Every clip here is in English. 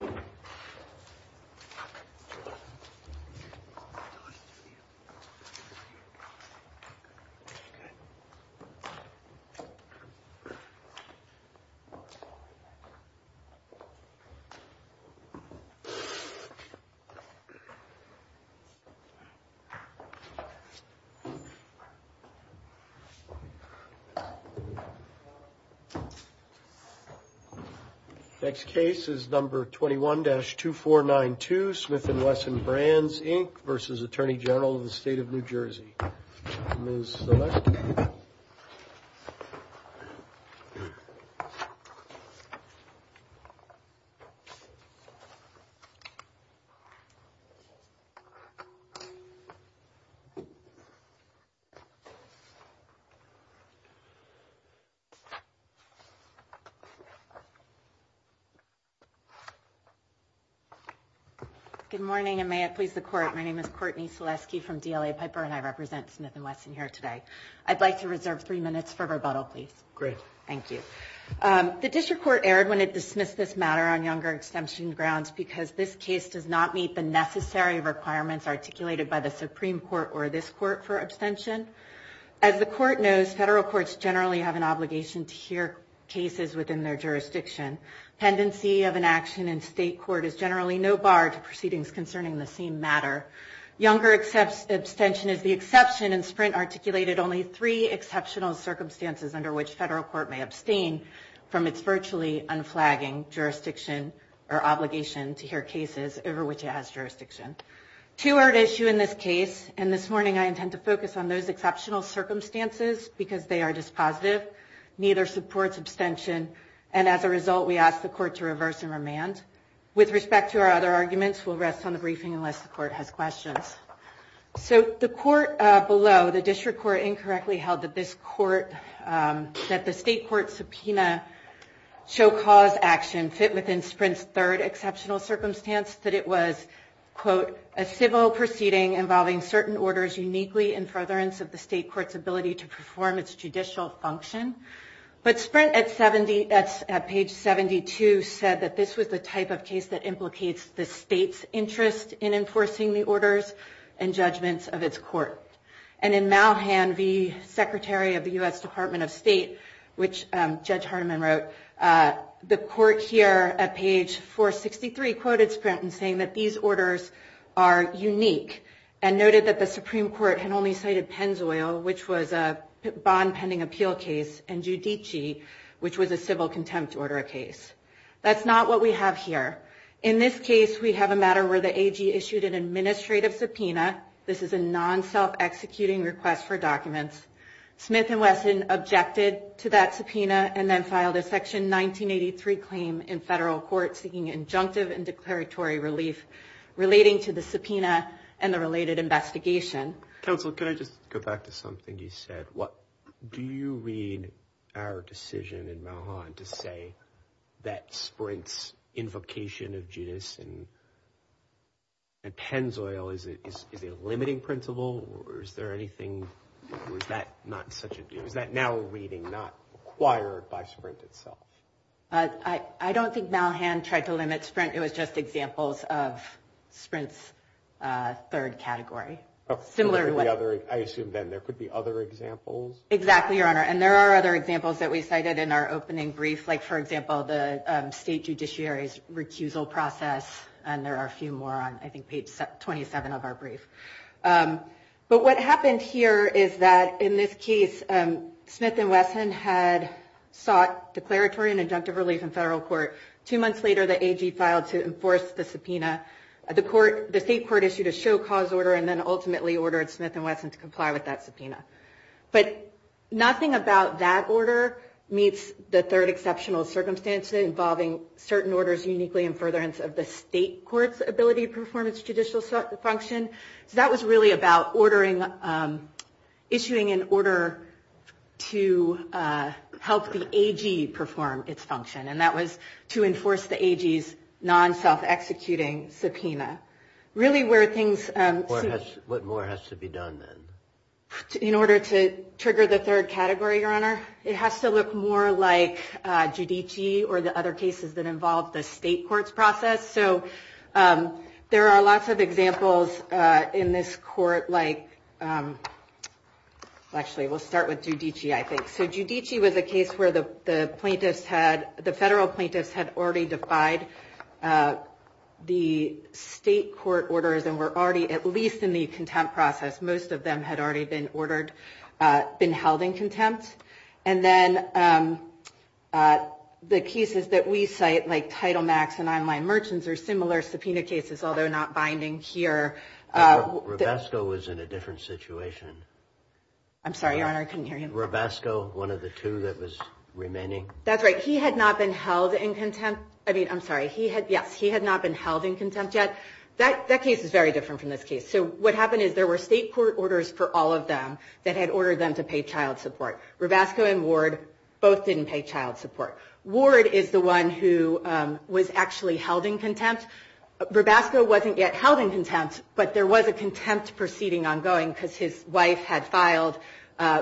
SECURITY AND PERSONNEL SAFETY Good morning and may it please the court. My name is Courtney Seleski from DLA Piper and I represent Smith & Wesson here today. I'd like to reserve three minutes for rebuttal please. Great. Thank you. The district court erred when it dismissed this matter on younger exemption grounds because this case does not meet the necessary requirements articulated by the Supreme Court or this court for abstention. As the court knows, federal courts generally have an obligation to hear cases within their jurisdiction. Tendency of an action in state court is generally no bar to proceedings concerning the same matter. Younger abstention is the exception in Sprint articulated only three exceptional circumstances under which federal court may abstain from its virtually unflagging jurisdiction or obligation to hear cases over which it has jurisdiction. Two are at issue in this case and this morning I intend to focus on those exceptional circumstances because they are dispositive. Neither supports abstention and as a result we asked the court to reverse and remand. With respect to our other arguments, we'll rest on the briefing unless the court has questions. So the court below, the district court, incorrectly held that this court, that the state court subpoena show cause action fit within Sprint's third exceptional circumstance that it was, quote, a civil proceeding involving certain orders uniquely in furtherance of the state court's ability to perform its judicial function. But Sprint at page 72 said that this was the type of case that implicates the state's interest in enforcing the orders and judgments of its court. And in Malhan v. Secretary of the U.S. Department of State, which Judge Hardeman wrote, the court here at page 463 quoted Sprint in saying that these orders are unique and noted that the Supreme Court had only cited Pennzoil, which was a bond pending appeal case, and Judici, which was a civil case. So what do we have here? In this case, we have a matter where the AG issued an administrative subpoena. This is a non-self-executing request for documents. Smith and Wesson objected to that subpoena and then filed a Section 1983 claim in federal court seeking injunctive and declaratory relief relating to the subpoena and the related investigation. Counsel, can I just go back to something you said? Do you read our decision in invocation of Judis and Pennzoil? Is it a limiting principle or is there anything, or is that not such a deal? Is that now a reading not required by Sprint itself? I don't think Malhan tried to limit Sprint. It was just examples of Sprint's third category. I assume then there could be other examples? Exactly, Your Honor. And there are other examples that we cited in our brief. But what happened here is that in this case, Smith and Wesson had sought declaratory and injunctive relief in federal court. Two months later, the AG filed to enforce the subpoena. The state court issued a show cause order and then ultimately ordered Smith and Wesson to comply with that subpoena. But nothing about that order meets the third exceptional circumstance involving certain orders uniquely in furtherance of the state court's ability to perform its judicial function. So that was really about issuing an order to help the AG perform its function. And that was to enforce the AG's non-self-executing subpoena. What more has to be done then? In order to trigger the third category, Your Honor, it has to look more like Giudici or the other cases that involved the state court's process. So there are lots of examples in this court like, actually, we'll start with Giudici, I think. So Giudici was a case where the plaintiffs had, the federal plaintiffs had already defied the state court orders and were already, at least in the contempt process, most of them had already been ordered, been held in contempt. And then the cases that we cite like Title Max and Online Merchants are similar subpoena cases, although not binding here. Robasco was in a different situation. I'm sorry, Your Honor, I couldn't hear you. Robasco, one of the two that was remaining. That's right, he had not been held in contempt. I mean, I'm sorry, he had, yes, he had not been held in contempt yet. That case is very different from this case. So what happened is there were state court orders for all of them that had ordered them to pay child support. Robasco and Ward both didn't pay child support. Ward is the one who was actually held in contempt. Robasco wasn't yet held in contempt, but there was a contempt proceeding ongoing because his wife had filed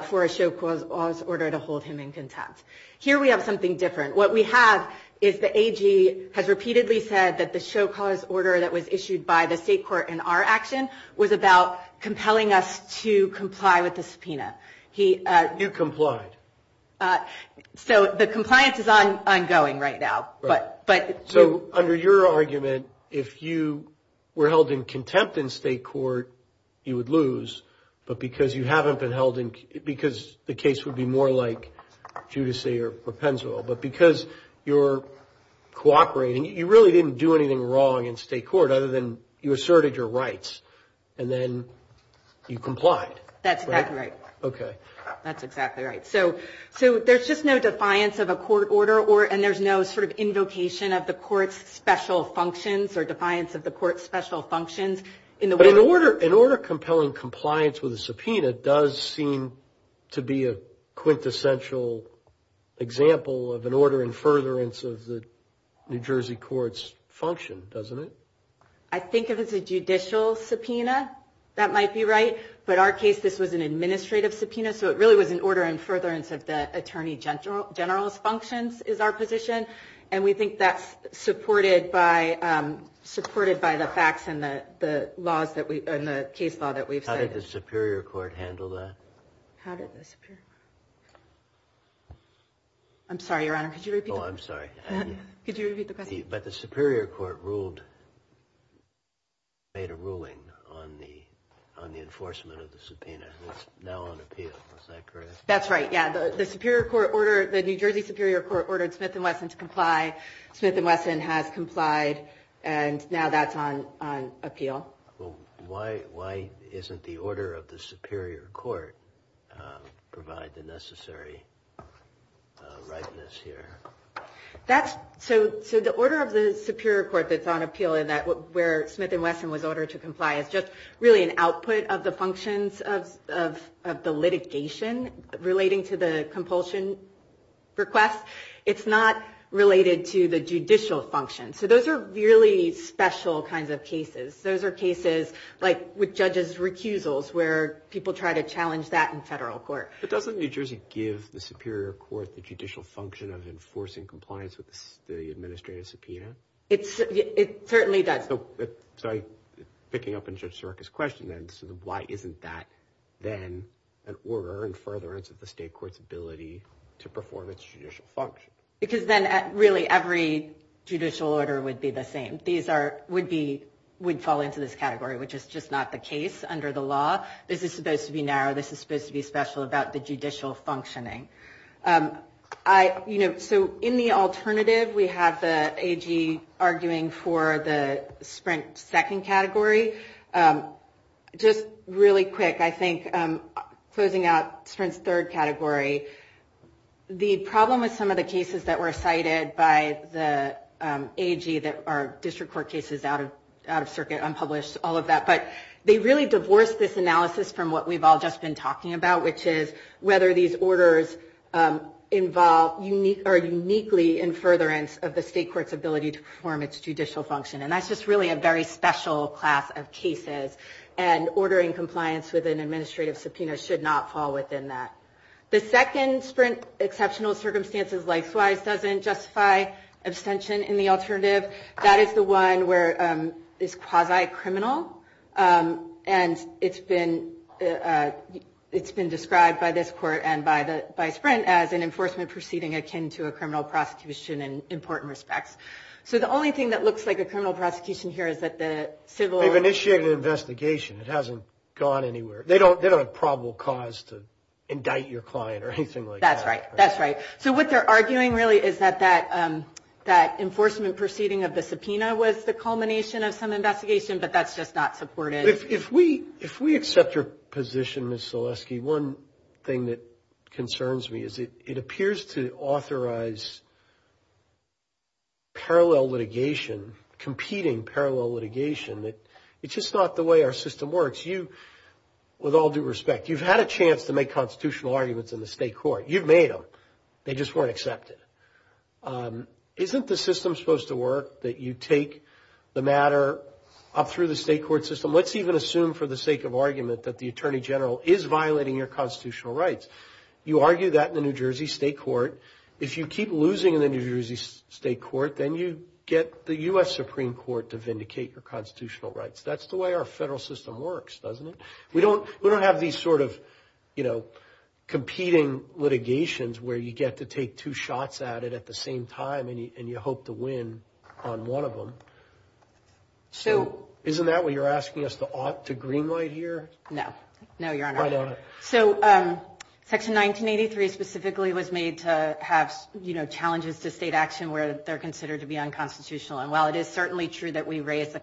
for a show cause order to hold him in contempt. Here we have something different. What we have is the AG has repeatedly said that the show cause order that was issued by the state court in our action was about compelling us to comply with the subpoena. You complied. So the compliance is ongoing right now. So under your argument, if you were held in contempt in state court, you would lose, but because you haven't been held in, because the case would be more like Giudice or Propenzole, but because you're cooperating, you really didn't do anything wrong in state court other than you asserted your rights and then you complied. That's exactly right. Okay. That's exactly right. So there's just no defiance of a court order and there's no sort of invocation of the court's special functions or defiance of the court's special functions. But an order compelling compliance with a subpoena does seem to be a quintessential example of an order in furtherance of the New Jersey court's function, doesn't it? I think if it's a judicial subpoena, that might be right. But our case, this was an administrative subpoena, so it really was an order in furtherance of the Attorney General's functions is our position. And we think that's supported by the facts and the case law that we've cited. How did the I'm sorry, Your Honor. Could you repeat the question? But the Superior Court made a ruling on the enforcement of the subpoena. It's now on appeal, is that correct? That's right, yeah. The New Jersey Superior Court ordered Smith & Wesson to comply. Smith & Wesson has complied and now that's on appeal. Why isn't the order of the Superior Court provide the necessary rightness here? So the order of the Superior Court that's on appeal, where Smith & Wesson was ordered to comply, is just really an output of the functions of the litigation relating to the compulsion request. It's not related to the judicial function. So those are really special kinds of cases. Those are cases like with judges' recusals, where people try to challenge that in federal court. But doesn't New Jersey give the Superior Court the judicial function of enforcing compliance with the administrative subpoena? It certainly does. So picking up on Judge Sareka's question then, why isn't that then an order in furtherance of the state court's ability to perform its judicial function? Because then really every judicial order would be the same. These would fall into this category, which is just not the case under the law. This is supposed to be narrow. This is supposed to be special about the judicial functioning. So in the alternative, we have the AG arguing for the Sprint second category. Just really quick, I think closing out Sprint's third category, the problem with some of the cases that were cited by the AG that are district court cases, out-of-circuit, unpublished, all of that. But they really divorce this analysis from what we've all just been talking about, which is whether these orders involve or are uniquely in furtherance of the state court's ability to perform its judicial function. And that's just really a very special class of cases. And ordering compliance with an administrative subpoena should not fall within that. The doesn't justify abstention in the alternative. That is the one where it's quasi-criminal. And it's been described by this court and by Sprint as an enforcement proceeding akin to a criminal prosecution in important respects. So the only thing that looks like a criminal prosecution here is that the civil... They've initiated an investigation. It hasn't gone anywhere. They don't have probable cause to indict your client or anything like that. That's right. That's right. So what they're arguing really is that that enforcement proceeding of the subpoena was the culmination of some investigation, but that's just not supported. If we accept your position, Ms. Zaleski, one thing that concerns me is it appears to authorize parallel litigation, competing parallel litigation. It's just not the way our system works. You, with all due respect, you've had a you've made them. They just weren't accepted. Isn't the system supposed to work that you take the matter up through the state court system? Let's even assume for the sake of argument that the attorney general is violating your constitutional rights. You argue that in the New Jersey state court. If you keep losing in the New Jersey state court, then you get the U.S. Supreme Court to vindicate your constitutional rights. That's the way our federal system works, doesn't it? We don't we don't have these sort of, you know, competing litigations where you get to take two shots at it at the same time and you hope to win on one of them. So isn't that what you're asking us to ought to greenlight here? No. No, Your Honor. So Section 1983 specifically was made to have, you know, challenges to state action where they're considered to be unconstitutional. And while it is certainly true that we raise the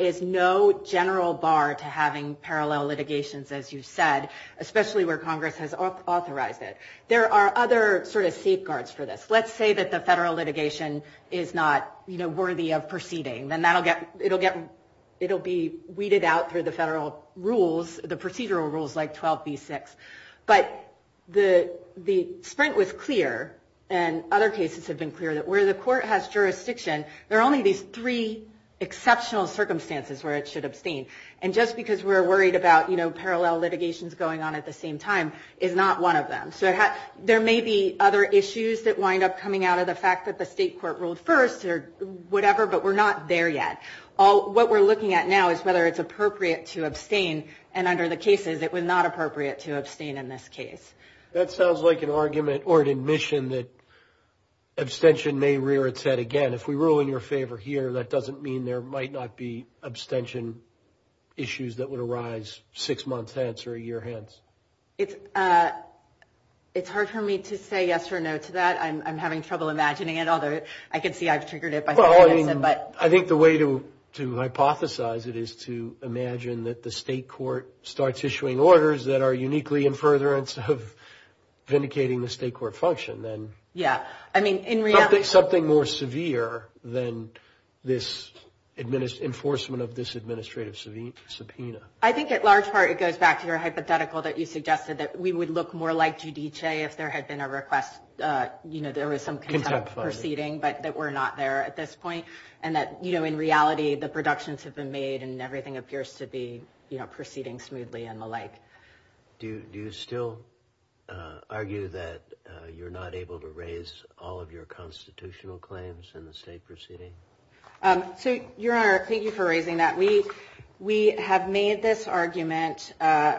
is no general bar to having parallel litigations, as you said, especially where Congress has authorized it. There are other sort of safeguards for this. Let's say that the federal litigation is not worthy of proceeding, then that'll get it'll get it'll be weeded out through the federal rules, the procedural rules like 12 v 6. But the the sprint was clear, and other cases have been clear that where the court has jurisdiction, there are only these three exceptional circumstances where it should abstain. And just because we're worried about, you know, parallel litigations going on at the same time is not one of them. So there may be other issues that wind up coming out of the fact that the state court ruled first or whatever, but we're not there yet. All what we're looking at now is whether it's appropriate to abstain. And under the cases, it was not appropriate to abstain in this case. That sounds like an argument or an admission that abstention may rear its head again. If we rule in your favor here, that doesn't mean there might not be abstention issues that would arise six months hence or a year hence. It's it's hard for me to say yes or no to that. I'm having trouble imagining it, although I can see I've triggered it. But I think the way to to hypothesize it is to imagine that the state court starts issuing orders that are uniquely in furtherance of vindicating the state court function. Then, yeah, I mean, in something more severe than this administrative enforcement of this administrative subpoena, I think at large part, it goes back to your hypothetical that you suggested that we would look more like judice if there had been a request. You know, there was some kind of proceeding, but that we're not there at this point. And that, you know, in reality, the productions have been made and everything appears to be proceeding smoothly and the like. Do you still argue that you're not able to raise all of your constitutional claims in the state proceeding? Um, so your honor, thank you for raising that. We we have made this argument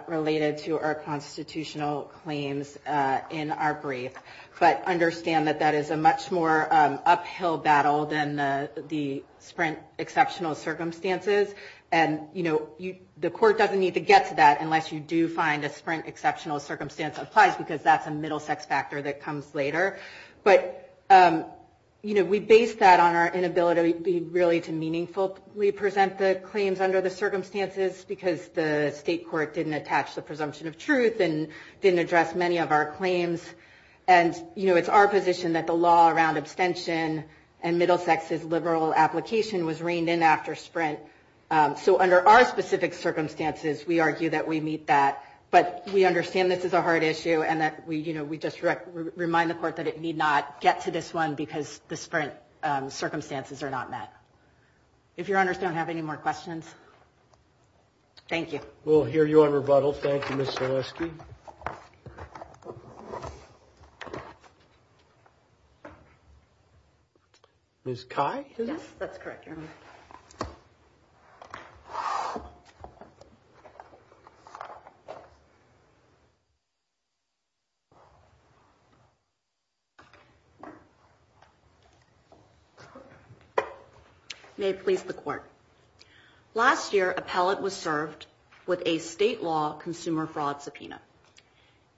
related to our constitutional claims in our brief. But understand that that is a much more uphill battle than the sprint exceptional circumstances. And, you know, the court doesn't need to get to that unless you do find a sprint exceptional circumstance applies because that's a middle sex factor that comes later. But, um, you know, we base that on our inability really to meaningfully present the claims under the circumstances because the state court didn't attach the presumption of truth and didn't address many of our claims. And, you know, it's our position that the law around abstention and middle sex is liberal application was under our specific circumstances. We argue that we meet that, but we understand this is a hard issue and that we, you know, we just remind the court that it need not get to this one because the sprint circumstances are not met. If your honors don't have any more questions, thank you. We'll hear you on rebuttal. Thank you, Miss Selesky. Thank you. Miss Kai. Yes, that's correct. May it please the court. Last year, appellate was served with a state law consumer fraud subpoena.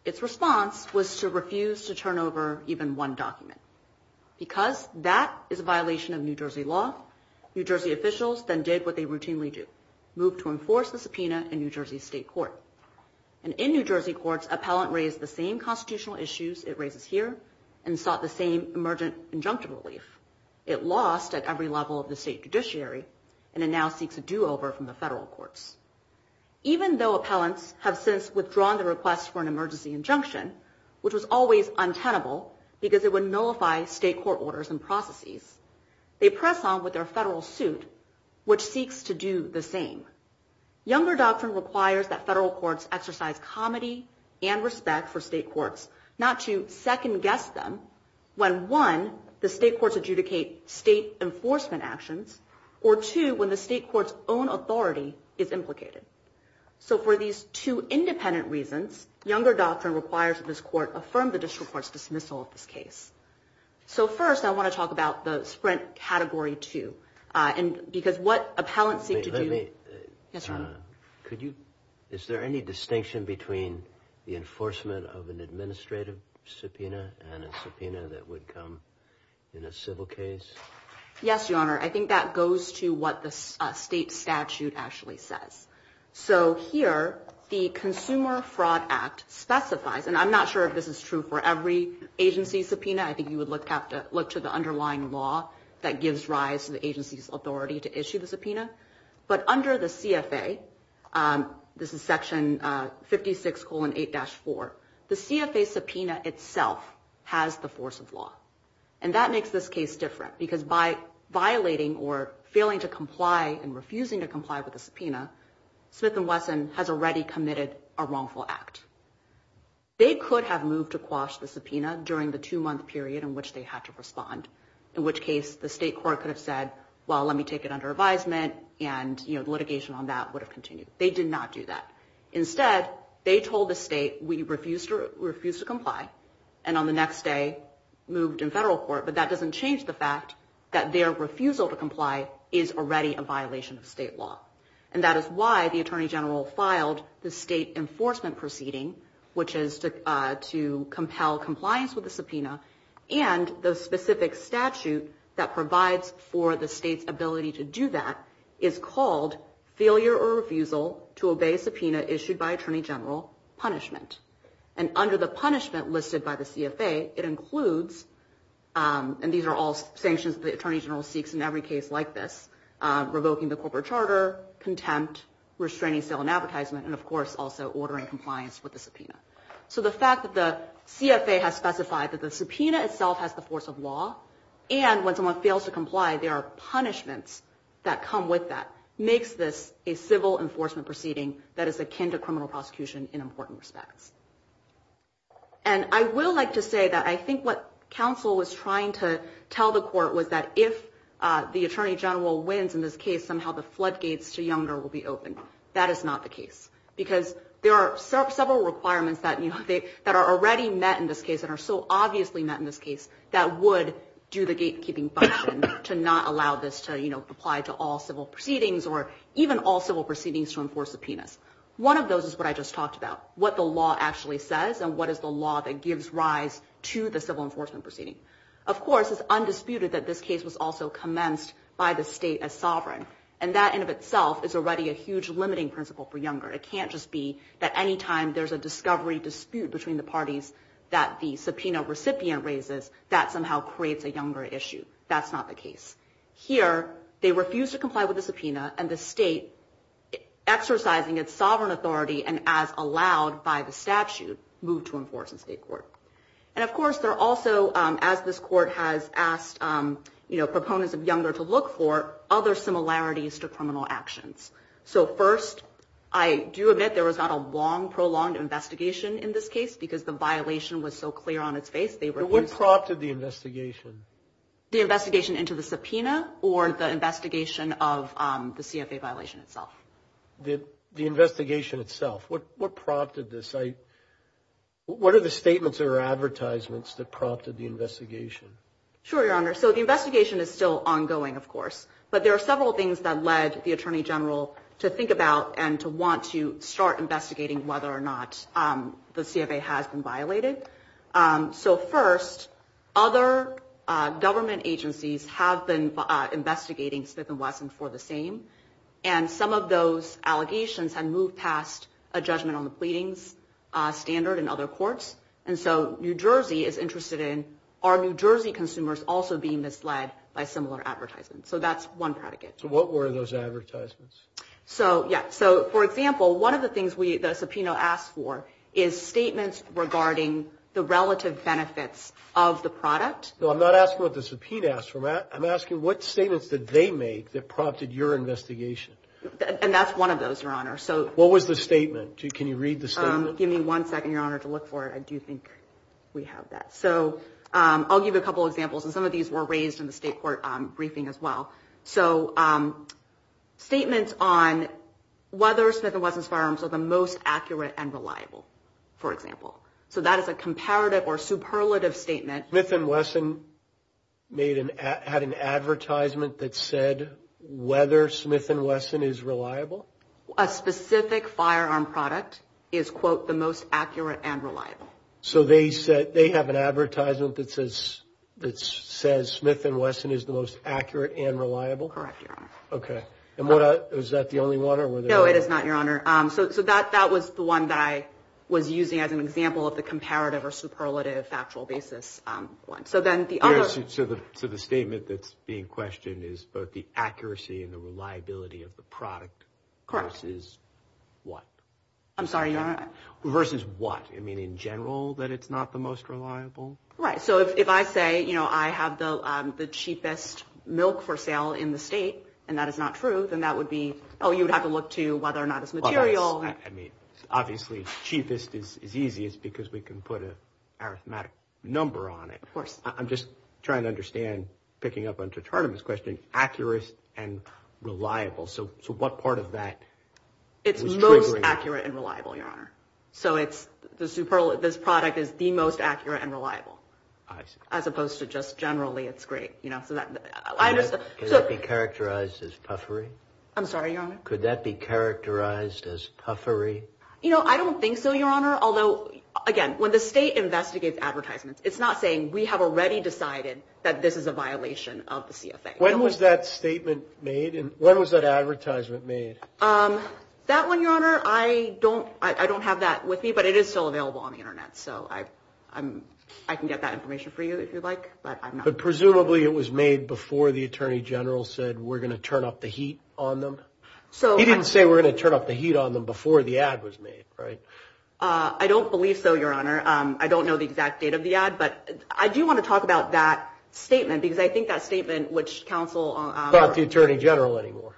Its response was to refuse to turn over even one document because that is a violation of New Jersey law. New Jersey officials then did what they routinely do move to enforce the subpoena in New Jersey State Court. And in New Jersey courts, appellant raised the same constitutional issues it raises here and sought the same emergent injunctive relief. It lost at every level of the state judiciary, and it now seeks a over from the federal courts. Even though appellants have since withdrawn the request for an emergency injunction, which was always untenable because it would nullify state court orders and processes. They press on with their federal suit, which seeks to do the same. Younger doctrine requires that federal courts exercise comedy and respect for state courts, not to second guess them when one the state courts adjudicate state enforcement actions, or two, when the state court's own authority is implicated. So for these two independent reasons, younger doctrine requires that this court affirm the district court's dismissal of this case. So first I want to talk about the Sprint Category 2, and because what appellants seek to do... Is there any distinction between the enforcement of an administrative subpoena and a subpoena that would come in a civil case? Yes, Your Honor. I think that goes to what the state statute actually says. So here the Consumer Fraud Act specifies, and I'm not sure if this is true for every agency subpoena, I think you would have to look to the underlying law that gives rise to the agency's authority to issue the subpoena, but under the CFA, this is section 56 colon 8-4, the CFA subpoena itself has the force of law. And that makes this case different, because by violating or failing to comply and refusing to comply with the subpoena, Smith & Wesson has already committed a wrongful act. They could have moved to quash the subpoena during the two-month period in which they had to respond, in which case the state court could have said, well let me take it under advisement, and you know litigation on that would have continued. They did not do that. Instead, they told the state we refused to comply, and on the next day moved in federal court, but that doesn't change the fact that their refusal to comply is already a violation of state law. And that is why the Attorney General filed the state enforcement proceeding, which is to compel compliance with the subpoena, and the specific statute that provides for the state's ability to do that is called failure or refusal to obey subpoena issued by Attorney General punishment. And under the punishment listed by the CFA, it includes, and these are all sanctions the Attorney General seeks in every case like this, revoking the corporate charter, contempt, restraining sale and advertisement, and of course also ordering compliance with the subpoena. So the fact that the CFA has specified that the subpoena itself has the force of law, and when someone fails to comply, there are punishments that come with that, makes this a civil enforcement proceeding that is akin to criminal prosecution in important respects. And I will like to say that I think what counsel was trying to tell the court was that if the Attorney General wins in this case, somehow the floodgates to Younger will be open. That is not the case, because there are several requirements that are already met in this case, that are so obviously met in this case that would do the gatekeeping function to not allow this to, you know, apply to all civil proceedings or even all civil proceedings to enforce subpoenas. One of those is what I just talked about, what the law actually says and what is the law that gives rise to the civil enforcement proceeding. Of course, it's undisputed that this case was also commenced by the state as sovereign, and that in of itself is already a huge limiting principle for Younger. It can't just be that any time there's a subpoena recipient raises, that somehow creates a Younger issue. That's not the case. Here, they refuse to comply with the subpoena and the state, exercising its sovereign authority and as allowed by the statute, moved to enforce in state court. And of course, they're also, as this court has asked, you know, proponents of Younger to look for, other similarities to criminal actions. So first, I do admit there was not a long prolonged investigation in this case because the violation was so clear on its face. They were what prompted the investigation, the investigation into the subpoena or the investigation of the C. F. A. Violation itself. Did the investigation itself? What? What prompted this? I what are the statements or advertisements that prompted the investigation? Sure, Your Honor. So the investigation is still ongoing, of course, but there are several things that led the attorney general to think about and to want to start investigating whether or not the C. F. A. has been violated. Um, so first, other government agencies have been investigating Smith and Wesson for the same, and some of those allegations have moved past a judgment on the pleadings standard and other courts. And so New Jersey is interested in our New Jersey consumers also being misled by similar advertisements. So that's one predicate. So what were those advertisements? So? Yeah. So, for example, one of the things we the subpoena asked for is statements regarding the relative benefits of the product. I'm not asking what the subpoena asked for. Matt, I'm asking what statements that they made that prompted your investigation. And that's one of those, Your Honor. So what was the statement? Can you read the statement? Give me one second, Your Honor. To look for it. I do think we have that. So I'll give a couple examples, and some of these were raised in the state court briefing as well. So, um, statements on whether Smith and Wesson's firearms are the most accurate and reliable, for example. So that is a comparative or superlative statement. Smith and Wesson made an had an advertisement that said whether Smith and Wesson is reliable. A specific firearm product is quote the most accurate and reliable. So they have an advertisement that says Smith and Wesson is the most accurate and reliable? Correct, Your Honor. Okay. And was that the only one? No, it is not, Your Honor. So that was the one that I was using as an example of the comparative or superlative factual basis one. So then the other... So the statement that's being questioned is both the accuracy and the reliability of the product. Correct. Versus what? I'm sorry, Your Honor. Versus what? I Right. So if I say, you know, I have the cheapest milk for sale in the state, and that is not true, then that would be, oh, you would have to look to whether or not it's material. I mean, obviously, cheapest is easiest because we can put an arithmetic number on it. Of course. I'm just trying to understand, picking up on Tartarna's question, accurate and reliable. So what part of that... It's most accurate and reliable, Your Honor. So it's this product is the most accurate and reliable. I see. As opposed to just generally, it's great. You know, so that... I understand. Could that be characterized as puffery? I'm sorry, Your Honor? Could that be characterized as puffery? You know, I don't think so, Your Honor. Although, again, when the state investigates advertisements, it's not saying we have already decided that this is a violation of the CFA. When was that I don't have that with me, but it is still available on the internet, so I can get that information for you if you'd like, but I'm not... But presumably it was made before the Attorney General said, we're going to turn up the heat on them? He didn't say we're going to turn up the heat on them before the ad was made, right? I don't believe so, Your Honor. I don't know the exact date of the ad, but I do want to talk about that statement because I think that statement, which counsel... It's not the Attorney General anymore.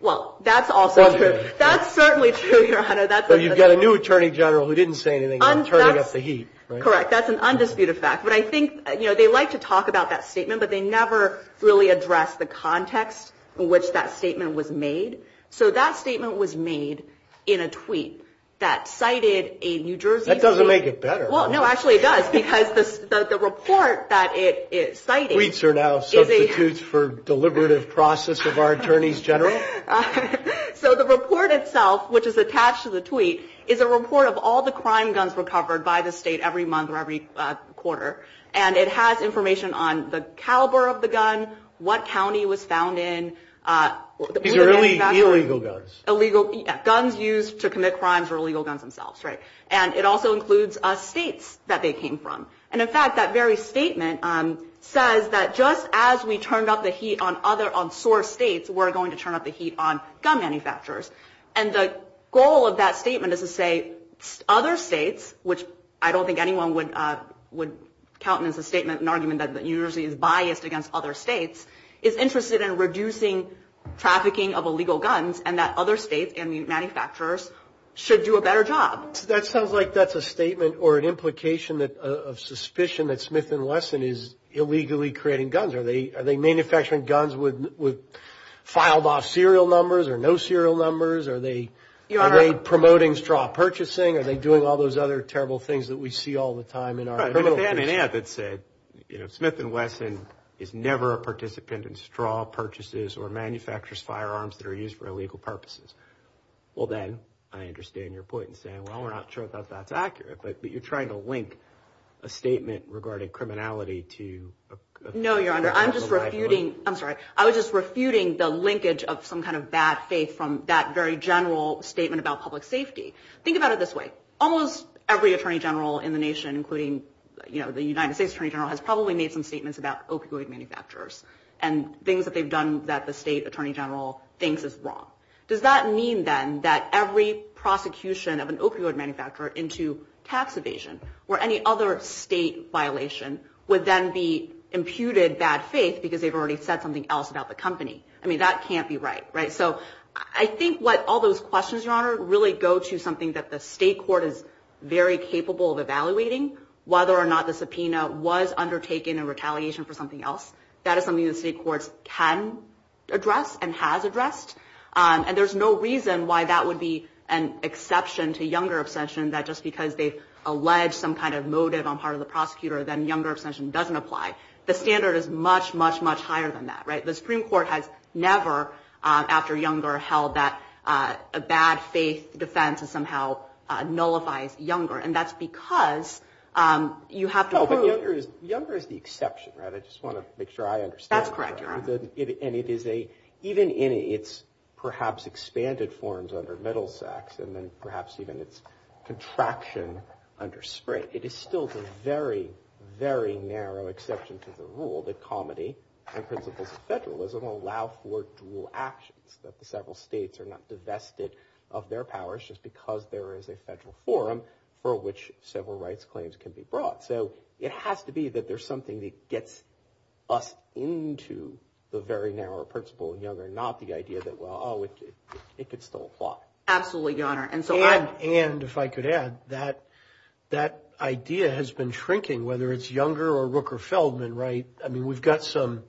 Well, that's also true. That's certainly true, Your Honor. But you've got a new Attorney General who didn't say anything about turning up the heat, right? Correct. That's an undisputed fact, but I think, you know, they like to talk about that statement, but they never really address the context in which that statement was made. So that statement was made in a tweet that cited a New Jersey... That doesn't make it better. Well, no, actually it does because the report that it is citing... Tweets are now for deliberative process of our Attorneys General. So the report itself, which is attached to the tweet, is a report of all the crime guns recovered by the state every month or every quarter, and it has information on the caliber of the gun, what county it was found in... These are really illegal guns. Illegal guns used to commit crimes or illegal guns themselves, right? And it also includes states that they came from. And in fact, that turned up the heat on other... On source states were going to turn up the heat on gun manufacturers. And the goal of that statement is to say other states, which I don't think anyone would count on as a statement, an argument that New Jersey is biased against other states, is interested in reducing trafficking of illegal guns and that other states and manufacturers should do a better job. That sounds like that's a statement or an implication of suspicion that Smith & Wesson is illegally creating guns. Are they manufacturing guns with filed-off serial numbers or no serial numbers? Are they promoting straw purchasing? Are they doing all those other terrible things that we see all the time in our... Right, but if they had said, you know, Smith & Wesson is never a participant in straw purchases or manufacturers' firearms that are used for illegal purposes, well, then I understand your point in saying, well, we're not sure that that's accurate, but you're trying to link a statement regarding criminality to... No, Your Honor, I'm just refuting... I'm sorry. I was just refuting the linkage of some kind of bad faith from that very general statement about public safety. Think about it this way. Almost every attorney general in the nation, including the United States Attorney General, has probably made some statements about opioid manufacturers and things that they've done that the state attorney general thinks is wrong. Does that mean, then, that every prosecution of an opioid manufacturer into tax evasion or any other state violation would then be imputed bad faith because they've already said something else about the company? I mean, that can't be right, right? So I think what all those questions, Your Honor, really go to something that the state court is very capable of evaluating, whether or not the subpoena was undertaken in retaliation for something else. That is something the state courts can address and has addressed, and there's no reason why that would be an exception to younger obsession that just because they've moted on part of the prosecutor then younger obsession doesn't apply. The standard is much, much, much higher than that, right? The Supreme Court has never, after Younger, held that a bad faith defense somehow nullifies Younger, and that's because you have to prove... Younger is the exception, right? I just want to make sure I understand. That's correct, Your Honor. And it is a... even in its perhaps expanded forms under Middlesex and then still the very, very narrow exception to the rule that comedy and principles of federalism allow for dual actions, that the several states are not divested of their powers just because there is a federal forum for which civil rights claims can be brought. So it has to be that there's something that gets us into the very narrow principle in Younger, not the idea that, well, oh, it could still apply. Absolutely, Your Honor, and so I... And if I could add, that idea has been shrinking, whether it's Younger or Rooker-Feldman, right? I mean, we've got some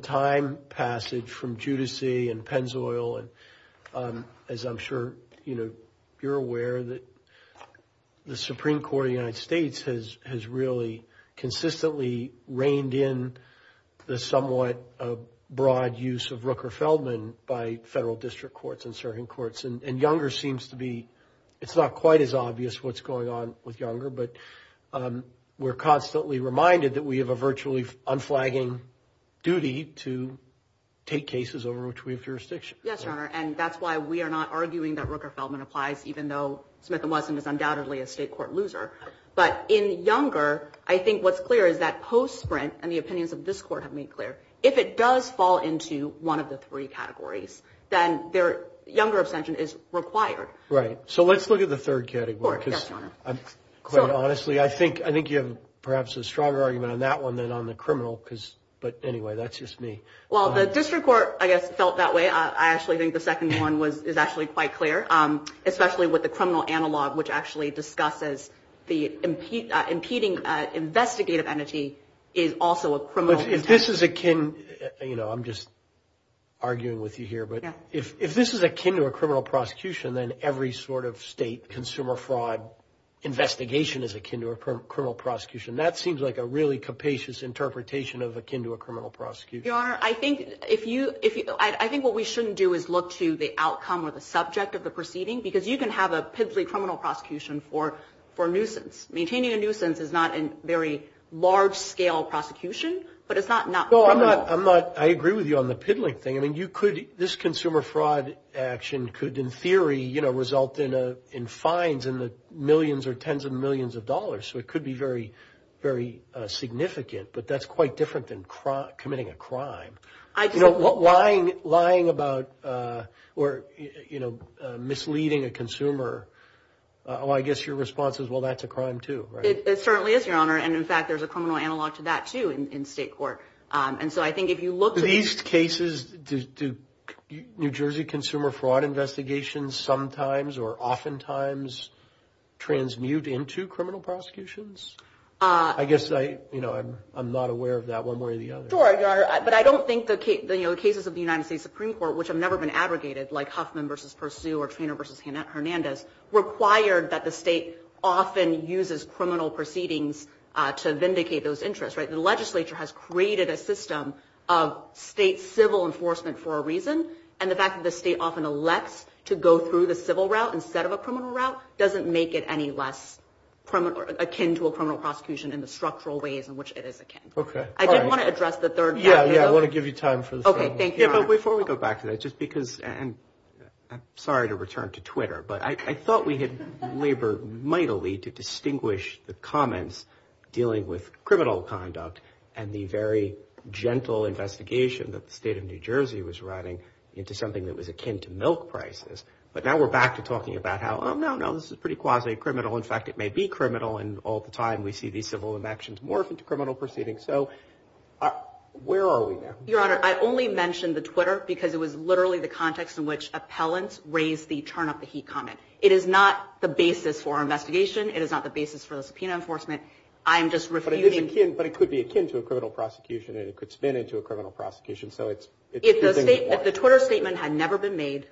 time passage from Judicy and Pennzoil, and as I'm sure, you know, you're aware that the Supreme Court of the United States has really consistently reined in the somewhat broad use of Rooker-Feldman by federal district courts and serving courts, and it's not quite as obvious what's going on with Younger, but we're constantly reminded that we have a virtually unflagging duty to take cases over which we have jurisdiction. Yes, Your Honor, and that's why we are not arguing that Rooker-Feldman applies, even though Smith & Wesson is undoubtedly a state court loser. But in Younger, I think what's clear is that post-sprint, and the opinions of this court have made clear, if it does fall into one of the three categories, then their Younger abstention is required. Right, so let's look at the third category, because quite honestly, I think you have perhaps a stronger argument on that one than on the criminal, but anyway, that's just me. Well, the district court, I guess, felt that way. I actually think the second one is actually quite clear, especially with the criminal analog, which actually discusses the impeding investigative entity is also a criminal abstention. If this is akin, you know, I'm just arguing with you here, but if this is sort of state consumer fraud investigation is akin to a criminal prosecution, that seems like a really capacious interpretation of akin to a criminal prosecution. Your Honor, I think if you, I think what we shouldn't do is look to the outcome or the subject of the proceeding, because you can have a piddly criminal prosecution for nuisance. Maintaining a nuisance is not a very large-scale prosecution, but it's not criminal. No, I'm not, I agree with you on the piddling thing. I mean, you could, this consumer fraud action could, in theory, you know, result in fines in the millions or tens of millions of dollars, so it could be very, very significant, but that's quite different than committing a crime. You know, lying about, or, you know, misleading a consumer, well, I guess your response is, well, that's a crime too, right? It certainly is, Your Honor, and in fact, there's a criminal analog to that too in state court, and so I think if you look to... In these cases, do New Jersey consumer fraud investigations sometimes or oftentimes transmute into criminal prosecutions? I guess I, you know, I'm not aware of that one way or the other. Sure, Your Honor, but I don't think the cases of the United States Supreme Court, which have never been abrogated, like Huffman versus Pursue or Treanor versus Hernandez, required that the state often uses criminal proceedings to vindicate those interests, right? The legislature has created a system of state civil enforcement for a reason, and the fact that the state often elects to go through the civil route instead of a criminal route doesn't make it any less akin to a criminal prosecution in the structural ways in which it is akin. Okay. I did want to address the third... Yeah, yeah, I want to give you time for this. Okay, thank you, Your Honor. But before we go back to that, just because, and I'm sorry to return to Twitter, but I thought we had labored mightily to distinguish the comments dealing with criminal conduct and the very gentle investigation that the state of New Jersey was writing into something that was akin to milk prices. But now we're back to talking about how, oh no, no, this is pretty quasi-criminal. In fact, it may be criminal, and all the time we see these civil actions morph into criminal proceedings. So where are we now? Your Honor, I only mentioned the Twitter because it was literally the context in which appellants raised the turn up the heat comment. It is not the basis for our investigation. It is not the basis for the subpoena enforcement. I'm just refuting... But it could be akin to a criminal prosecution, and it could spin into a criminal prosecution. So it's... The Twitter statement had never been made.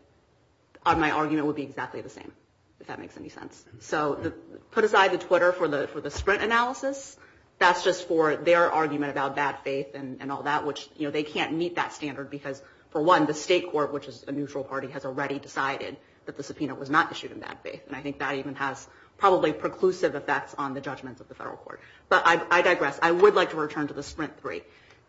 My argument would be exactly the same, if that makes any sense. So put aside the Twitter for the sprint analysis. That's just for their argument about bad faith and all that, which they can't meet that standard because, for one, the state court, which is a neutral party, has already decided that the subpoena was not issued in bad faith. And I think that even has probably preclusive effects on the judgments of the federal court. But I digress. I would like to return to the sprint three.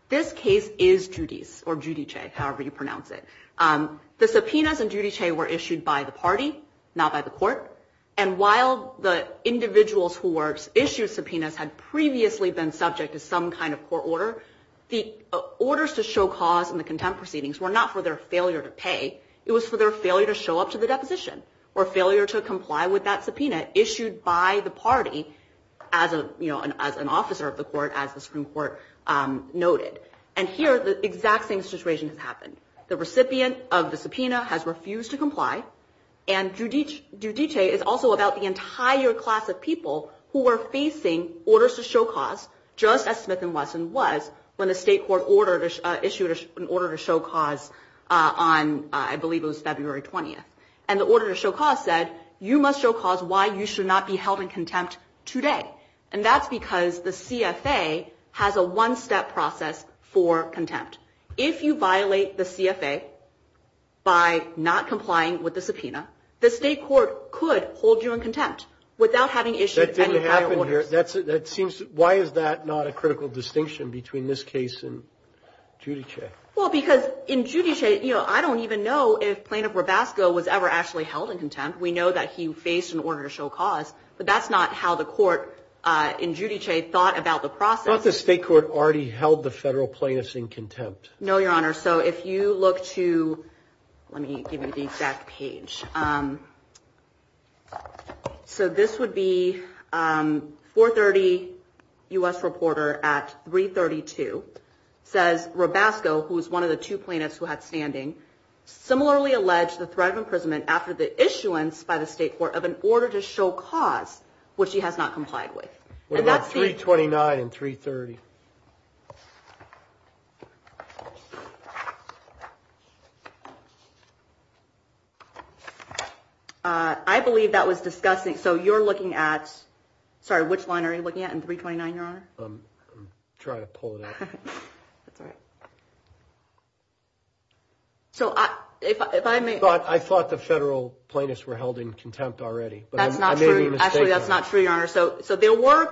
This case is Giudice's, or Giudice, however you pronounce it. The subpoenas in Giudice were issued by the party, not by the court. And while the individuals who were issued subpoenas had previously been subject to some kind of court order, the orders to show cause in the contempt proceedings were not for their failure to pay. It was for their failure to show up to the deposition, or failure to comply with that subpoena issued by the party as an officer of the court, as the Supreme Court noted. And here, the exact same situation has happened. The recipient of the subpoena has refused to comply. And Giudice is also about the entire class of people who were facing orders to show cause, just as Smith and Wesson was when the state court issued an order to show cause on, I believe it was February 20th. And the order to show cause said, you must show cause why you should not be held in contempt today. And that's because the CFA has a one-step process for contempt. If you violate the CFA by not complying with the subpoena, the state court could hold you in contempt without having issued any kind of orders. That didn't happen here. That seems, why is that not a critical distinction between this case and Giudice? Well, because in Giudice, you know, I don't even know if Plaintiff But that's not how the court in Giudice thought about the process. Thought the state court already held the federal plaintiffs in contempt. No, Your Honor. So if you look to, let me give you the exact page. So this would be 430 U.S. Reporter at 332 says, Robasco, who was one of the two plaintiffs who had standing, similarly alleged the threat of imprisonment after the issuance by the to show cause which he has not complied with. What about 329 and 330? I believe that was discussing. So you're looking at, sorry, which line are you looking at in 329, Your Honor? I'm trying to pull it out. So if I may. I thought the federal plaintiffs were held in contempt already. That's not true. Actually, that's not true, Your Honor. So there were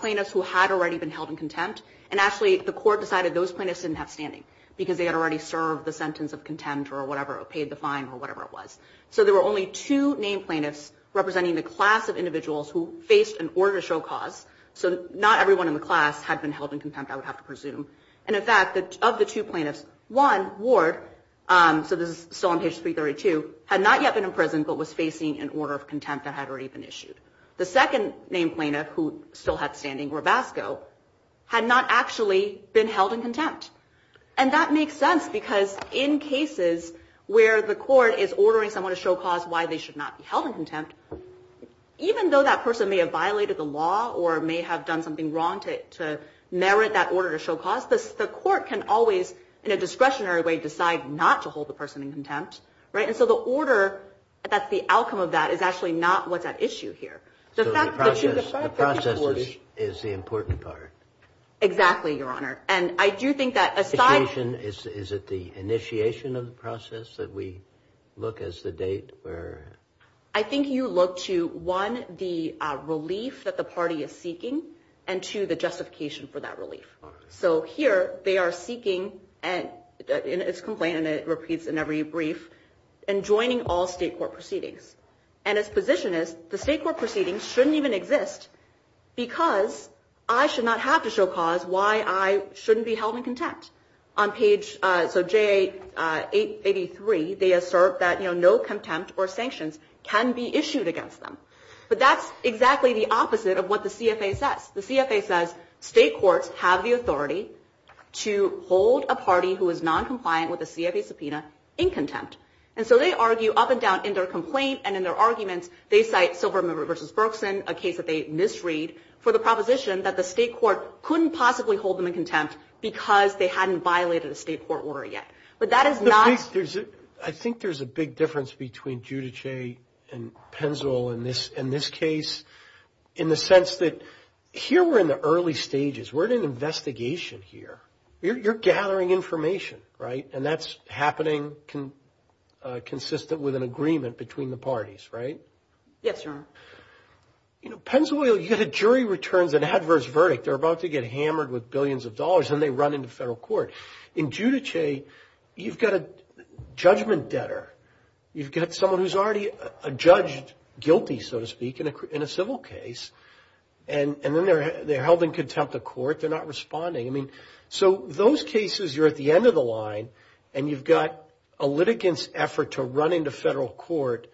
plaintiffs who had already been held in contempt. And actually, the court decided those plaintiffs didn't have standing because they had already served the sentence of contempt or whatever, paid the fine or whatever it was. So there were only two named plaintiffs representing the class of individuals who faced an order to show cause. So not everyone in the class had been held in contempt, I would have to presume. And in fact, of the two plaintiffs, one, Ward, so this is still on page 332, had not yet been imprisoned but was facing an order of contempt that had already been issued. The second named plaintiff, who still had standing, Rabasco, had not actually been held in contempt. And that makes sense because in cases where the court is ordering someone to show cause why they should not be held in contempt, even though that person may have violated the law or may have done something wrong to merit that order to show cause, the court can always, in a discretionary way, decide not to hold the person in contempt, right? And so the order, that's the outcome of that, is actually not what's at issue here. So the process is the important part. Exactly, Your Honor. And I do think that aside... Is it the initiation of the process that we look as the date where... I think you look to, one, the relief that the party is seeking and two, the justification for that relief. So here, they are seeking, and it's complained, and it repeats in every brief, and joining all state court proceedings. And its position is the state court proceedings shouldn't even exist because I should not have to show cause why I shouldn't be held in contempt. On page... So J883, they assert that no contempt or sanctions can be issued against them. But that's exactly the opposite of what the CFA says. The CFA says state courts have the authority to hold a party who is non-compliant with a CFA subpoena in contempt. And so they argue up and down in their complaint and in their arguments, they cite Silverman v. Berkson, a case that they misread, for the proposition that the state court couldn't possibly hold them in contempt because they hadn't violated a state court order yet. But that is not... I think there's a big difference between Giudice and Penzl in this case, in the sense that here we're in the early stages. We're in an investigation here. You're gathering information, right? And that's happening consistent with an agreement between the parties, right? Yes, Your Honor. You know, Penzl Oil, you get a jury returns an adverse verdict. They're about to get hammered with billions of dollars, and they run into federal court. In Giudice, you've got a judgment debtor. You've got someone who's already judged guilty, so to speak, in a civil case. And then they're held in contempt of court. They're not responding. I mean, so those cases, you're at the end of the line, and you've got a litigant's effort to run into federal court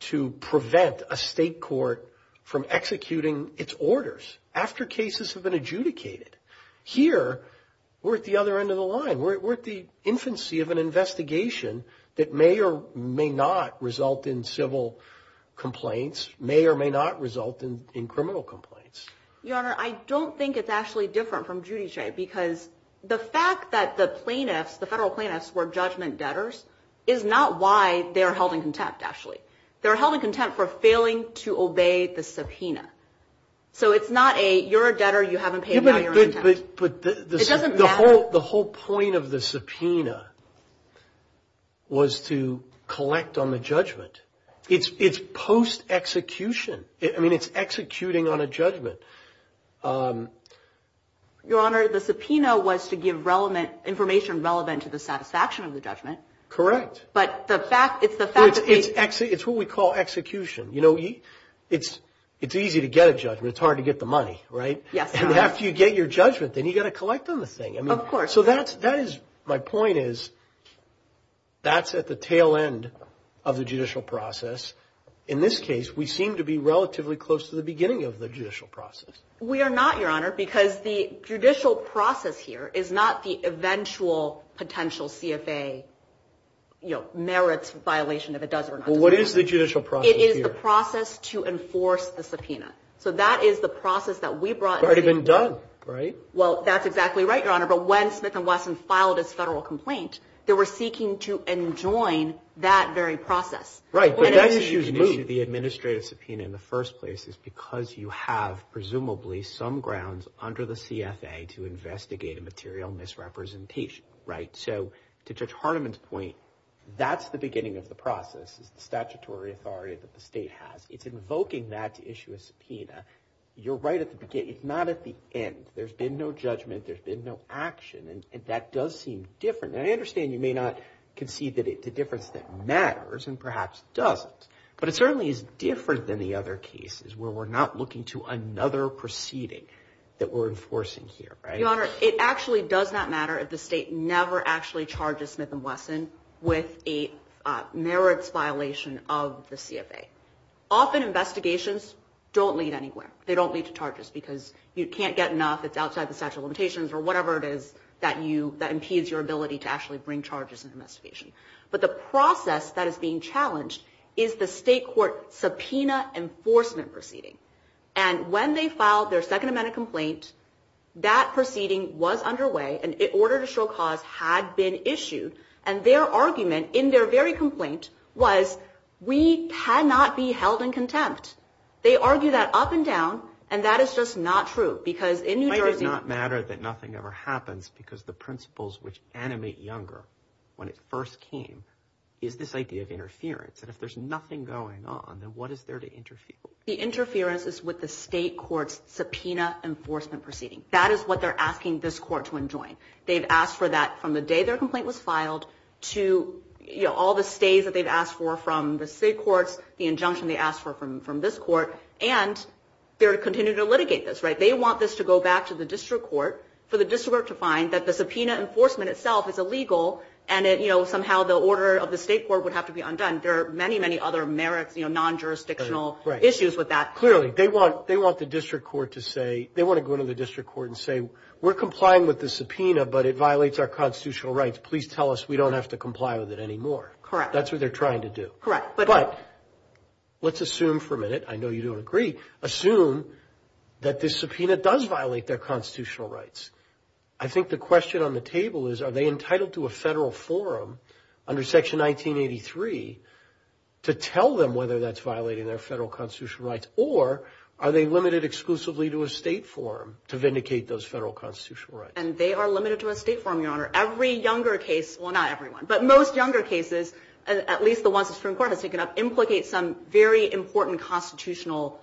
to prevent a state court from executing its orders after cases have been adjudicated. Here, we're at the other end of the line. We're at the infancy of an investigation that may or may not result in civil complaints, may or may not result in criminal complaints. Your Honor, I don't think it's actually different from Giudice because the fact that the plaintiffs, the federal plaintiffs, were judgment debtors is not why they're held in contempt, actually. They're held in contempt for failing to obey the subpoena. So it's not a, you're a debtor, you haven't paid, now you're in contempt. But the whole point of the subpoena was to collect on the judgment. It's post-execution. I mean, it's executing on a judgment. Your Honor, the subpoena was to give relevant, information relevant to the satisfaction of the judgment. Correct. But the fact, it's the fact that they- It's what we call execution. You know, it's easy to get a judgment. It's hard to get the money, right? Yes, Your Honor. After you get your judgment, then you've got to collect on the thing. I mean- Of course. So that is, my point is, that's at the tail end of the judicial process. In this case, we seem to be relatively close to the beginning of the judicial process. We are not, Your Honor, because the judicial process here is not the eventual potential CFA merits violation, if it does or not. Well, what is the judicial process here? It is the process to enforce the subpoena. So that is the process that we brought- It's already been done, right? Well, that's exactly right, Your Honor. But when Smith & Wesson filed its federal complaint, they were seeking to enjoin that very process. Right, but that issue's moved. The administrative subpoena in the first place is because you have, presumably, some grounds under the CFA to investigate a material misrepresentation, right? So to Judge Hartiman's point, that's the beginning of the process. It's the statutory authority that the state has. It's invoking that to issue a subpoena. You're right at the beginning. It's not at the end. There's been no judgment. There's been no action, and that does seem different. And I understand you may not concede that it's a difference that matters and perhaps doesn't, but it certainly is different than the other cases where we're not looking to another proceeding that we're enforcing here, right? Your Honor, it actually does not matter if the state never actually charges Smith & Wesson with a merits violation of the CFA. Often investigations don't lead anywhere. They don't lead to charges because you can't get enough. It's outside the statute of limitations or whatever it is that you, that impedes your ability to actually bring charges into investigation. But the process that is being challenged is the state court subpoena enforcement proceeding. And when they filed their second amendment complaint, that proceeding was underway, and an order to show cause had been issued. And their argument in their very complaint was we cannot be held in contempt. They argue that up and down, and that is just not true. Because in New Jersey- It does not matter that nothing ever happens because the principles which animate Younger when it first came is this idea of interference. And if there's nothing going on, then what is there to interfere with? The interference is with the state court's subpoena enforcement proceeding. That is what they're asking this court to enjoin. They've asked for that from the day their complaint was filed, to all the stays that they've asked for from the state courts, the injunction they asked for from this court. And they're continuing to litigate this, right? They want this to go back to the district court, for the district court to find that the subpoena enforcement itself is illegal, and somehow the order of the state court would have to be undone. There are many, many other merits, non-jurisdictional issues with that. Clearly, they want the district court to say, they want to go into the district court and say, we're complying with the subpoena, but it violates our constitutional rights. Please tell us we don't have to comply with it anymore. Correct. That's what they're trying to do. Correct. But let's assume for a minute, I know you don't agree, assume that this subpoena does violate their constitutional rights. I think the question on the table is, are they entitled to a federal forum under section 1983 to tell them whether that's violating their federal constitutional rights, or are they limited exclusively to a state forum to vindicate those federal constitutional rights? And they are limited to a state forum, Your Honor. Every younger case, well, not everyone, but most younger cases, at least the ones the Supreme Court has taken up, implicate some very important constitutional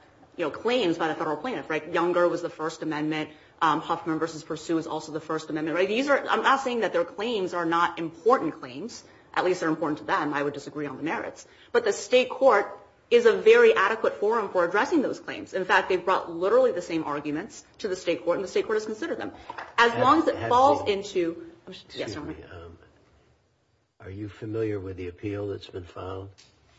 claims by the federal plaintiff, right? Younger was the First Amendment. Huffman v. Pursuit was also the First Amendment, right? These are, I'm not saying that their claims are not important claims, at least they're important to them. I would disagree on the merits. But the state court is a very adequate forum for addressing those claims. In fact, they've brought literally the same arguments to the state court, and the state court has considered them. As long as it falls into... Are you familiar with the appeal that's been filed?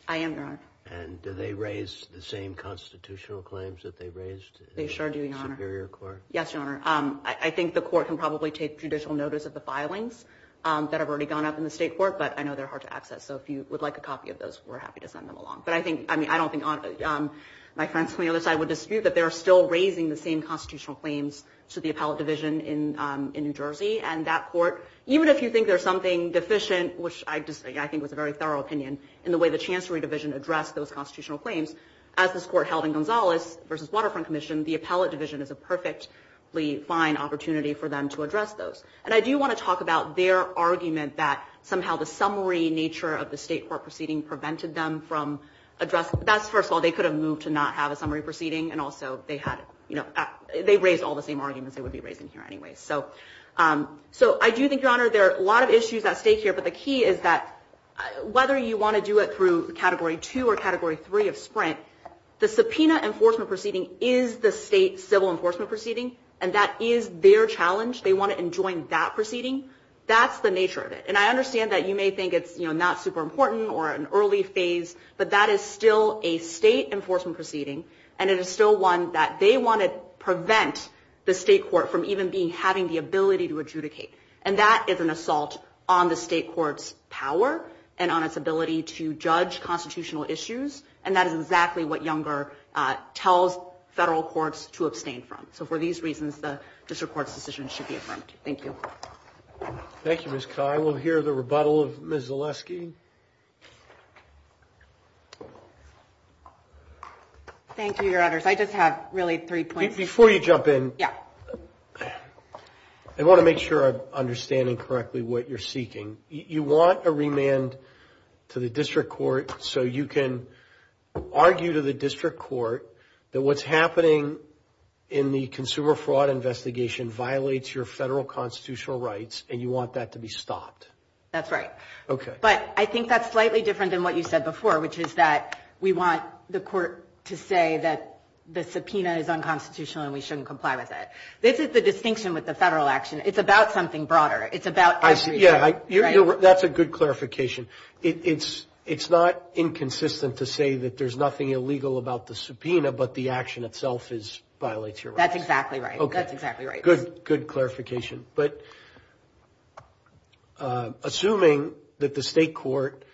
I am, Your Honor. And do they raise the same constitutional claims that they raised? They sure do, Your Honor. In the Superior Court? Yes, Your Honor. I think the court can probably take judicial notice of the filings that have already gone up in the state court, but I know they're hard to access. So if you would like a copy of those, we're happy to send them along. But I don't think my friends from the other side would dispute that they're still raising the same constitutional claims to the appellate division in New Jersey. And that court, even if you think there's something deficient, which I think was a very thorough opinion, in the way the Chancery Division addressed those constitutional claims, as this court held in Gonzalez v. Waterfront Commission, the appellate division is a perfectly fine opportunity for them to address those. And I do want to talk about their argument that somehow the summary nature of the state court proceeding prevented them from addressing. That's first of all, they could have moved to not have a summary proceeding. And also, they raised all the same arguments they would be raising here anyway. So I do think, Your Honor, there are a lot of issues at stake here. But the key is that whether you want to do it through Category 2 or Category 3 of Sprint, the subpoena enforcement proceeding is the state civil enforcement proceeding. And that is their challenge. They want to enjoin that proceeding. That's the nature of it. And I understand that you may think it's not super important or an early phase. But that is still a state enforcement proceeding. And it is still one that they want to prevent the state court from even having the ability to adjudicate. And that is an assault on the state court's power and on its ability to judge constitutional issues. And that is exactly what Younger tells federal courts to abstain from. So for these reasons, the district court's decision should be affirmed. Thank you. Thank you, Ms. Carr. We'll hear the rebuttal of Ms. Zaleski. Thank you, Your Honors. I just have really three points. Before you jump in, I want to make sure I'm understanding correctly what you're seeking. You want a remand to the district court so you can argue to the district court that what's happening in the consumer fraud investigation violates your federal constitutional rights. And you want that to be stopped. That's right. Okay. But I think that's slightly different than what you said before, which is that we want the court to say that the subpoena is unconstitutional and we shouldn't comply with it. This is the distinction with the federal action. It's about something broader. It's about the district court. Yeah, that's a good clarification. It's not inconsistent to say that there's nothing illegal about the subpoena, but the action itself violates your rights. That's exactly right. That's exactly right. Good, good clarification. But assuming that the state court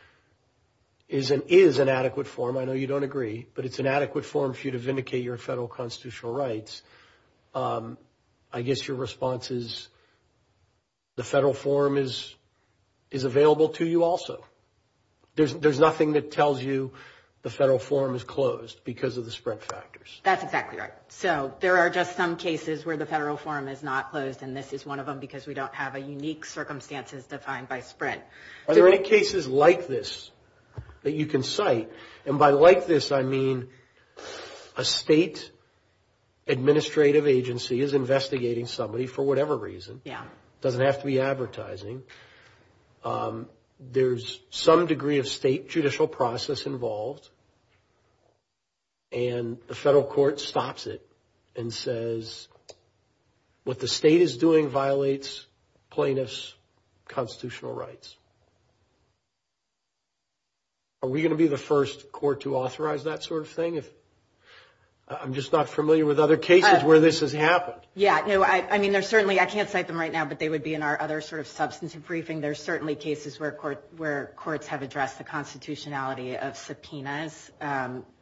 is an adequate form, I know you don't agree, but it's an adequate form for you to vindicate your federal constitutional rights, I guess your response is the federal form is available to you also. There's nothing that tells you the federal form is closed because of the spread factors. That's exactly right. So there are just some cases where the federal form is not closed, and this is one of them because we don't have a unique circumstances defined by spread. Are there any cases like this that you can cite? And by like this, I mean a state administrative agency is investigating somebody for whatever reason. Yeah. It doesn't have to be advertising. There's some degree of state judicial process involved, and the federal court stops it and says, what the state is doing violates plaintiff's constitutional rights. Are we going to be the first court to authorize that sort of thing? I'm just not familiar with other cases where this has happened. Yeah, no, I mean, there's certainly, I can't cite them right now, but they would be in our other sort of substantive briefing. There's certainly cases where courts have addressed the constitutionality of subpoenas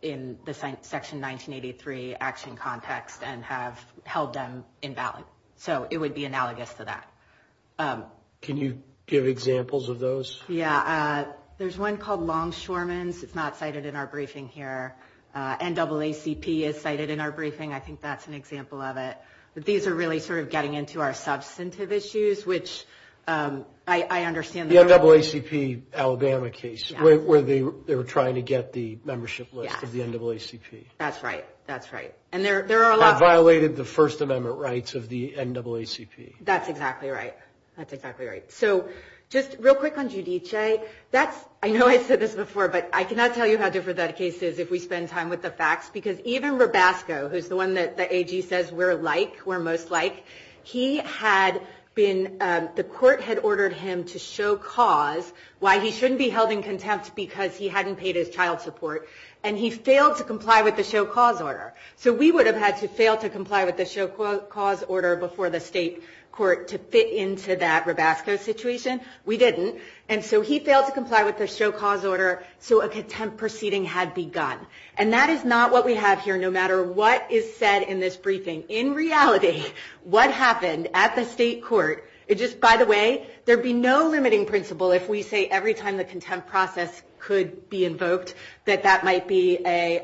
in the section 1983 action context and have held them invalid. So it would be analogous to that. Can you give examples of those? Yeah, there's one called Longshoreman's. It's not cited in our briefing here. NAACP is cited in our briefing. I think that's an example of it, but these are really sort of getting into our substantive issues, which I understand. The NAACP Alabama case where they were trying to get the membership list of the NAACP. That's right. That's right. And there are a lot... That violated the First Amendment rights of the NAACP. That's exactly right. That's exactly right. So just real quick on Giudice. That's, I know I said this before, but I cannot tell you how different that case is if we spend time with the facts, because even Rabasco, who's the one that the AG says we're like, we're most like, he had been, the court had ordered him to show cause why he shouldn't be held in contempt because he hadn't paid his child support, and he failed to comply with the show cause order. So we would have had to fail to comply with the show cause order before the state court to fit into that Rabasco situation. We didn't. And so he failed to comply with the show cause order. So a contempt proceeding had begun. And that is not what we have here, no matter what is said in this briefing. In reality, what happened at the state court, it just, by the way, there'd be no limiting principle if we say every time the contempt process could be invoked that that might be a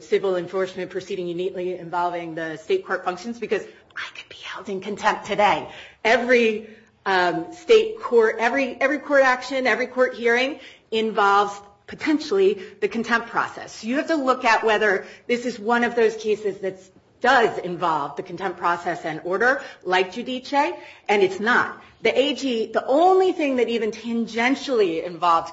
civil enforcement proceeding uniquely involving the state court functions, because I could be held in contempt today. Every state court, every court action, every court hearing involves potentially the contempt process. You have to look at whether this is one of those cases that does involve the contempt process and order, like Judice, and it's not. The AG, the only thing that even tangentially involved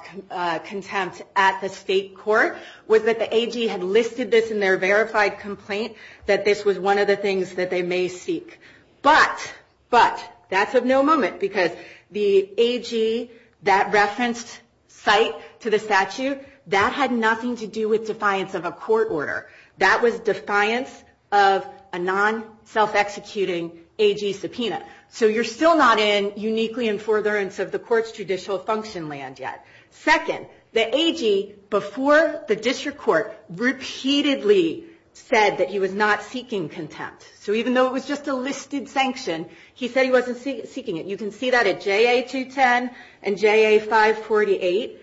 contempt at the state court was that the AG had listed this in their verified complaint, that this was one of the things that they may seek. But, but, that's of no moment, because the AG, that referenced site to the statute, that had nothing to do with defiance of a court order. That was defiance of a non-self-executing AG subpoena. So you're still not in uniquely in forbearance of the court's judicial function land yet. Second, the AG, before the district court, repeatedly said that he was not seeking contempt. So even though it was just a listed sanction, he said he wasn't seeking it. You can see that at JA-210 and JA-548.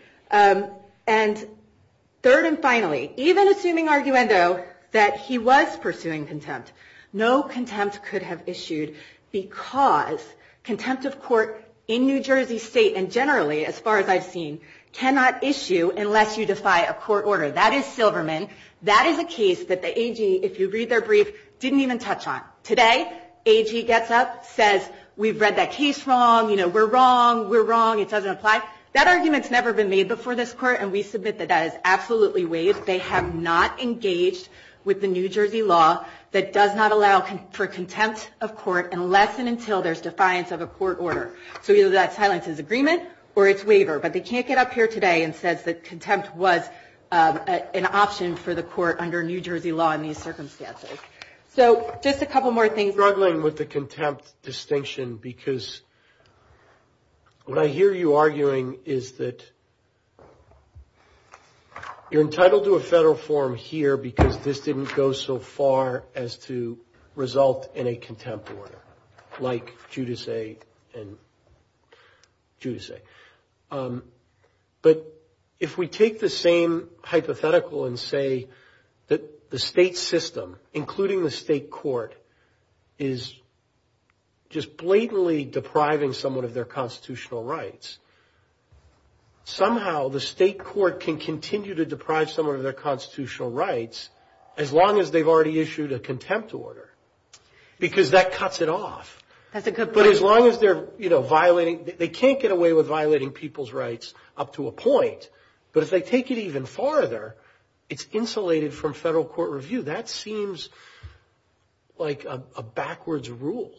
And third and finally, even assuming arguendo, that he was pursuing contempt, no contempt could have issued because contempt of court in New Jersey State, and generally, as far as I've seen, cannot issue unless you defy a court order. That is Silverman. That is a case that the AG, if you read their brief, didn't even touch on. Today, AG gets up, says, we've read that case wrong. You know, we're wrong. We're wrong. It doesn't apply. That argument's never been made before this court. And we submit that that is absolutely waived. They have not engaged with the New Jersey law that does not allow for contempt of court unless and until there's defiance of a court order. So either that silences agreement or it's waiver. But they can't get up here today and says that contempt was an option for the court under New Jersey law in these circumstances. So just a couple more things. I'm struggling with the contempt distinction because what I hear you arguing is that you're entitled to a federal form here because this didn't go so far as to result in a contempt order, like Giudice and Giudice. But if we take the same hypothetical and say that the state system, including the state court, is just blatantly depriving someone of their constitutional rights, somehow the state court can continue to deprive someone of their constitutional rights as long as they've already issued a contempt order. Because that cuts it off. That's a good point. But as long as they're, you know, violating, they can't get away with violating people's rights up to a point. But if they take it even farther, it's insulated from federal court review. That seems like a backwards rule.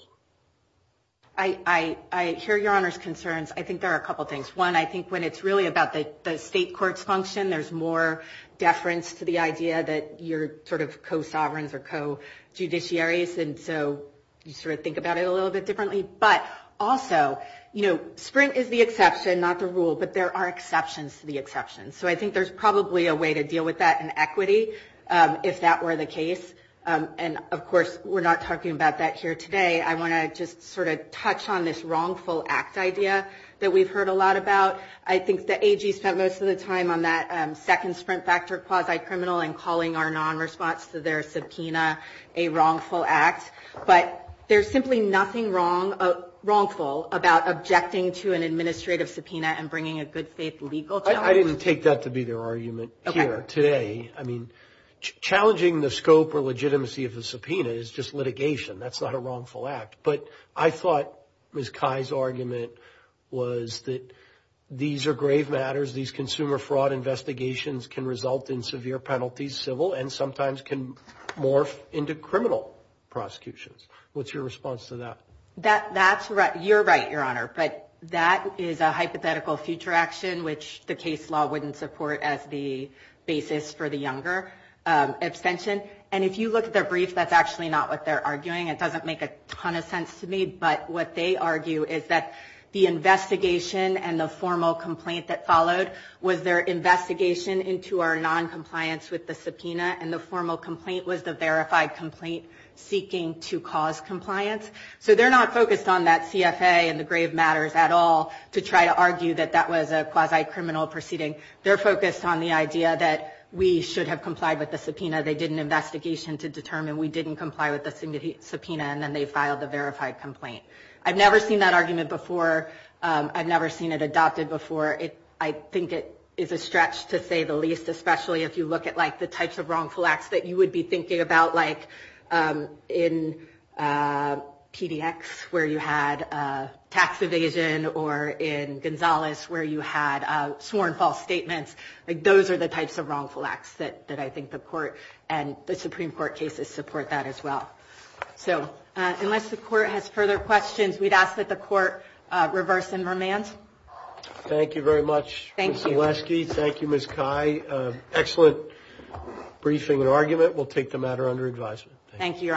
I hear Your Honor's concerns. I think there are a couple of things. One, I think when it's really about the state court's function, there's more deference to the idea that you're sort of co-sovereigns or co-judiciaries. And so you sort of think about it a little bit differently. But also, you know, Sprint is the exception, not the rule. But there are exceptions to the exception. So I think there's probably a way to deal with that in equity, if that were the case. And of course, we're not talking about that here today. I want to just sort of touch on this wrongful act idea that we've heard a lot about. I think the AG spent most of the time on that second Sprint factor quasi-criminal and calling our non-response to their subpoena a wrongful act. But there's simply nothing wrong, wrongful, about objecting to an administrative subpoena and bringing a good faith legal judge. I didn't take that to be their argument here today. I mean, challenging the scope or legitimacy of the subpoena is just litigation. That's not a wrongful act. But I thought Ms. Kai's argument was that these are grave matters. These consumer fraud investigations can result in severe penalties, civil and sometimes can morph into criminal prosecutions. What's your response to that? That's right. You're right, Your Honor. But that is a hypothetical future action, which the case law wouldn't support as the basis for the younger abstention. And if you look at their brief, that's actually not what they're arguing. It doesn't make a ton of sense to me. But what they argue is that the investigation and the formal complaint that followed was their investigation into our non-compliance with the subpoena. And the formal complaint was the verified complaint seeking to cause compliance. So they're not focused on that CFA and the grave matters at all to try to argue that that was a quasi-criminal proceeding. They're focused on the idea that we should have complied with the subpoena. They did an investigation to determine we didn't comply with the subpoena. And then they filed the verified complaint. I've never seen that argument before. I've never seen it adopted before. I think it is a stretch to say the least, especially if you look at the types of wrongful acts that you would be thinking about like in PDX, where you had tax evasion, or in Gonzales, where you had sworn false statements. Those are the types of wrongful acts that I think the court and the Supreme Court cases support that as well. So unless the court has further questions, we'd ask that the court reverse and remand. Thank you very much, Ms. Gillespie. Thank you, Ms. Cai. Excellent briefing and argument. We'll take the matter under advisement. Thank you, Your Honors.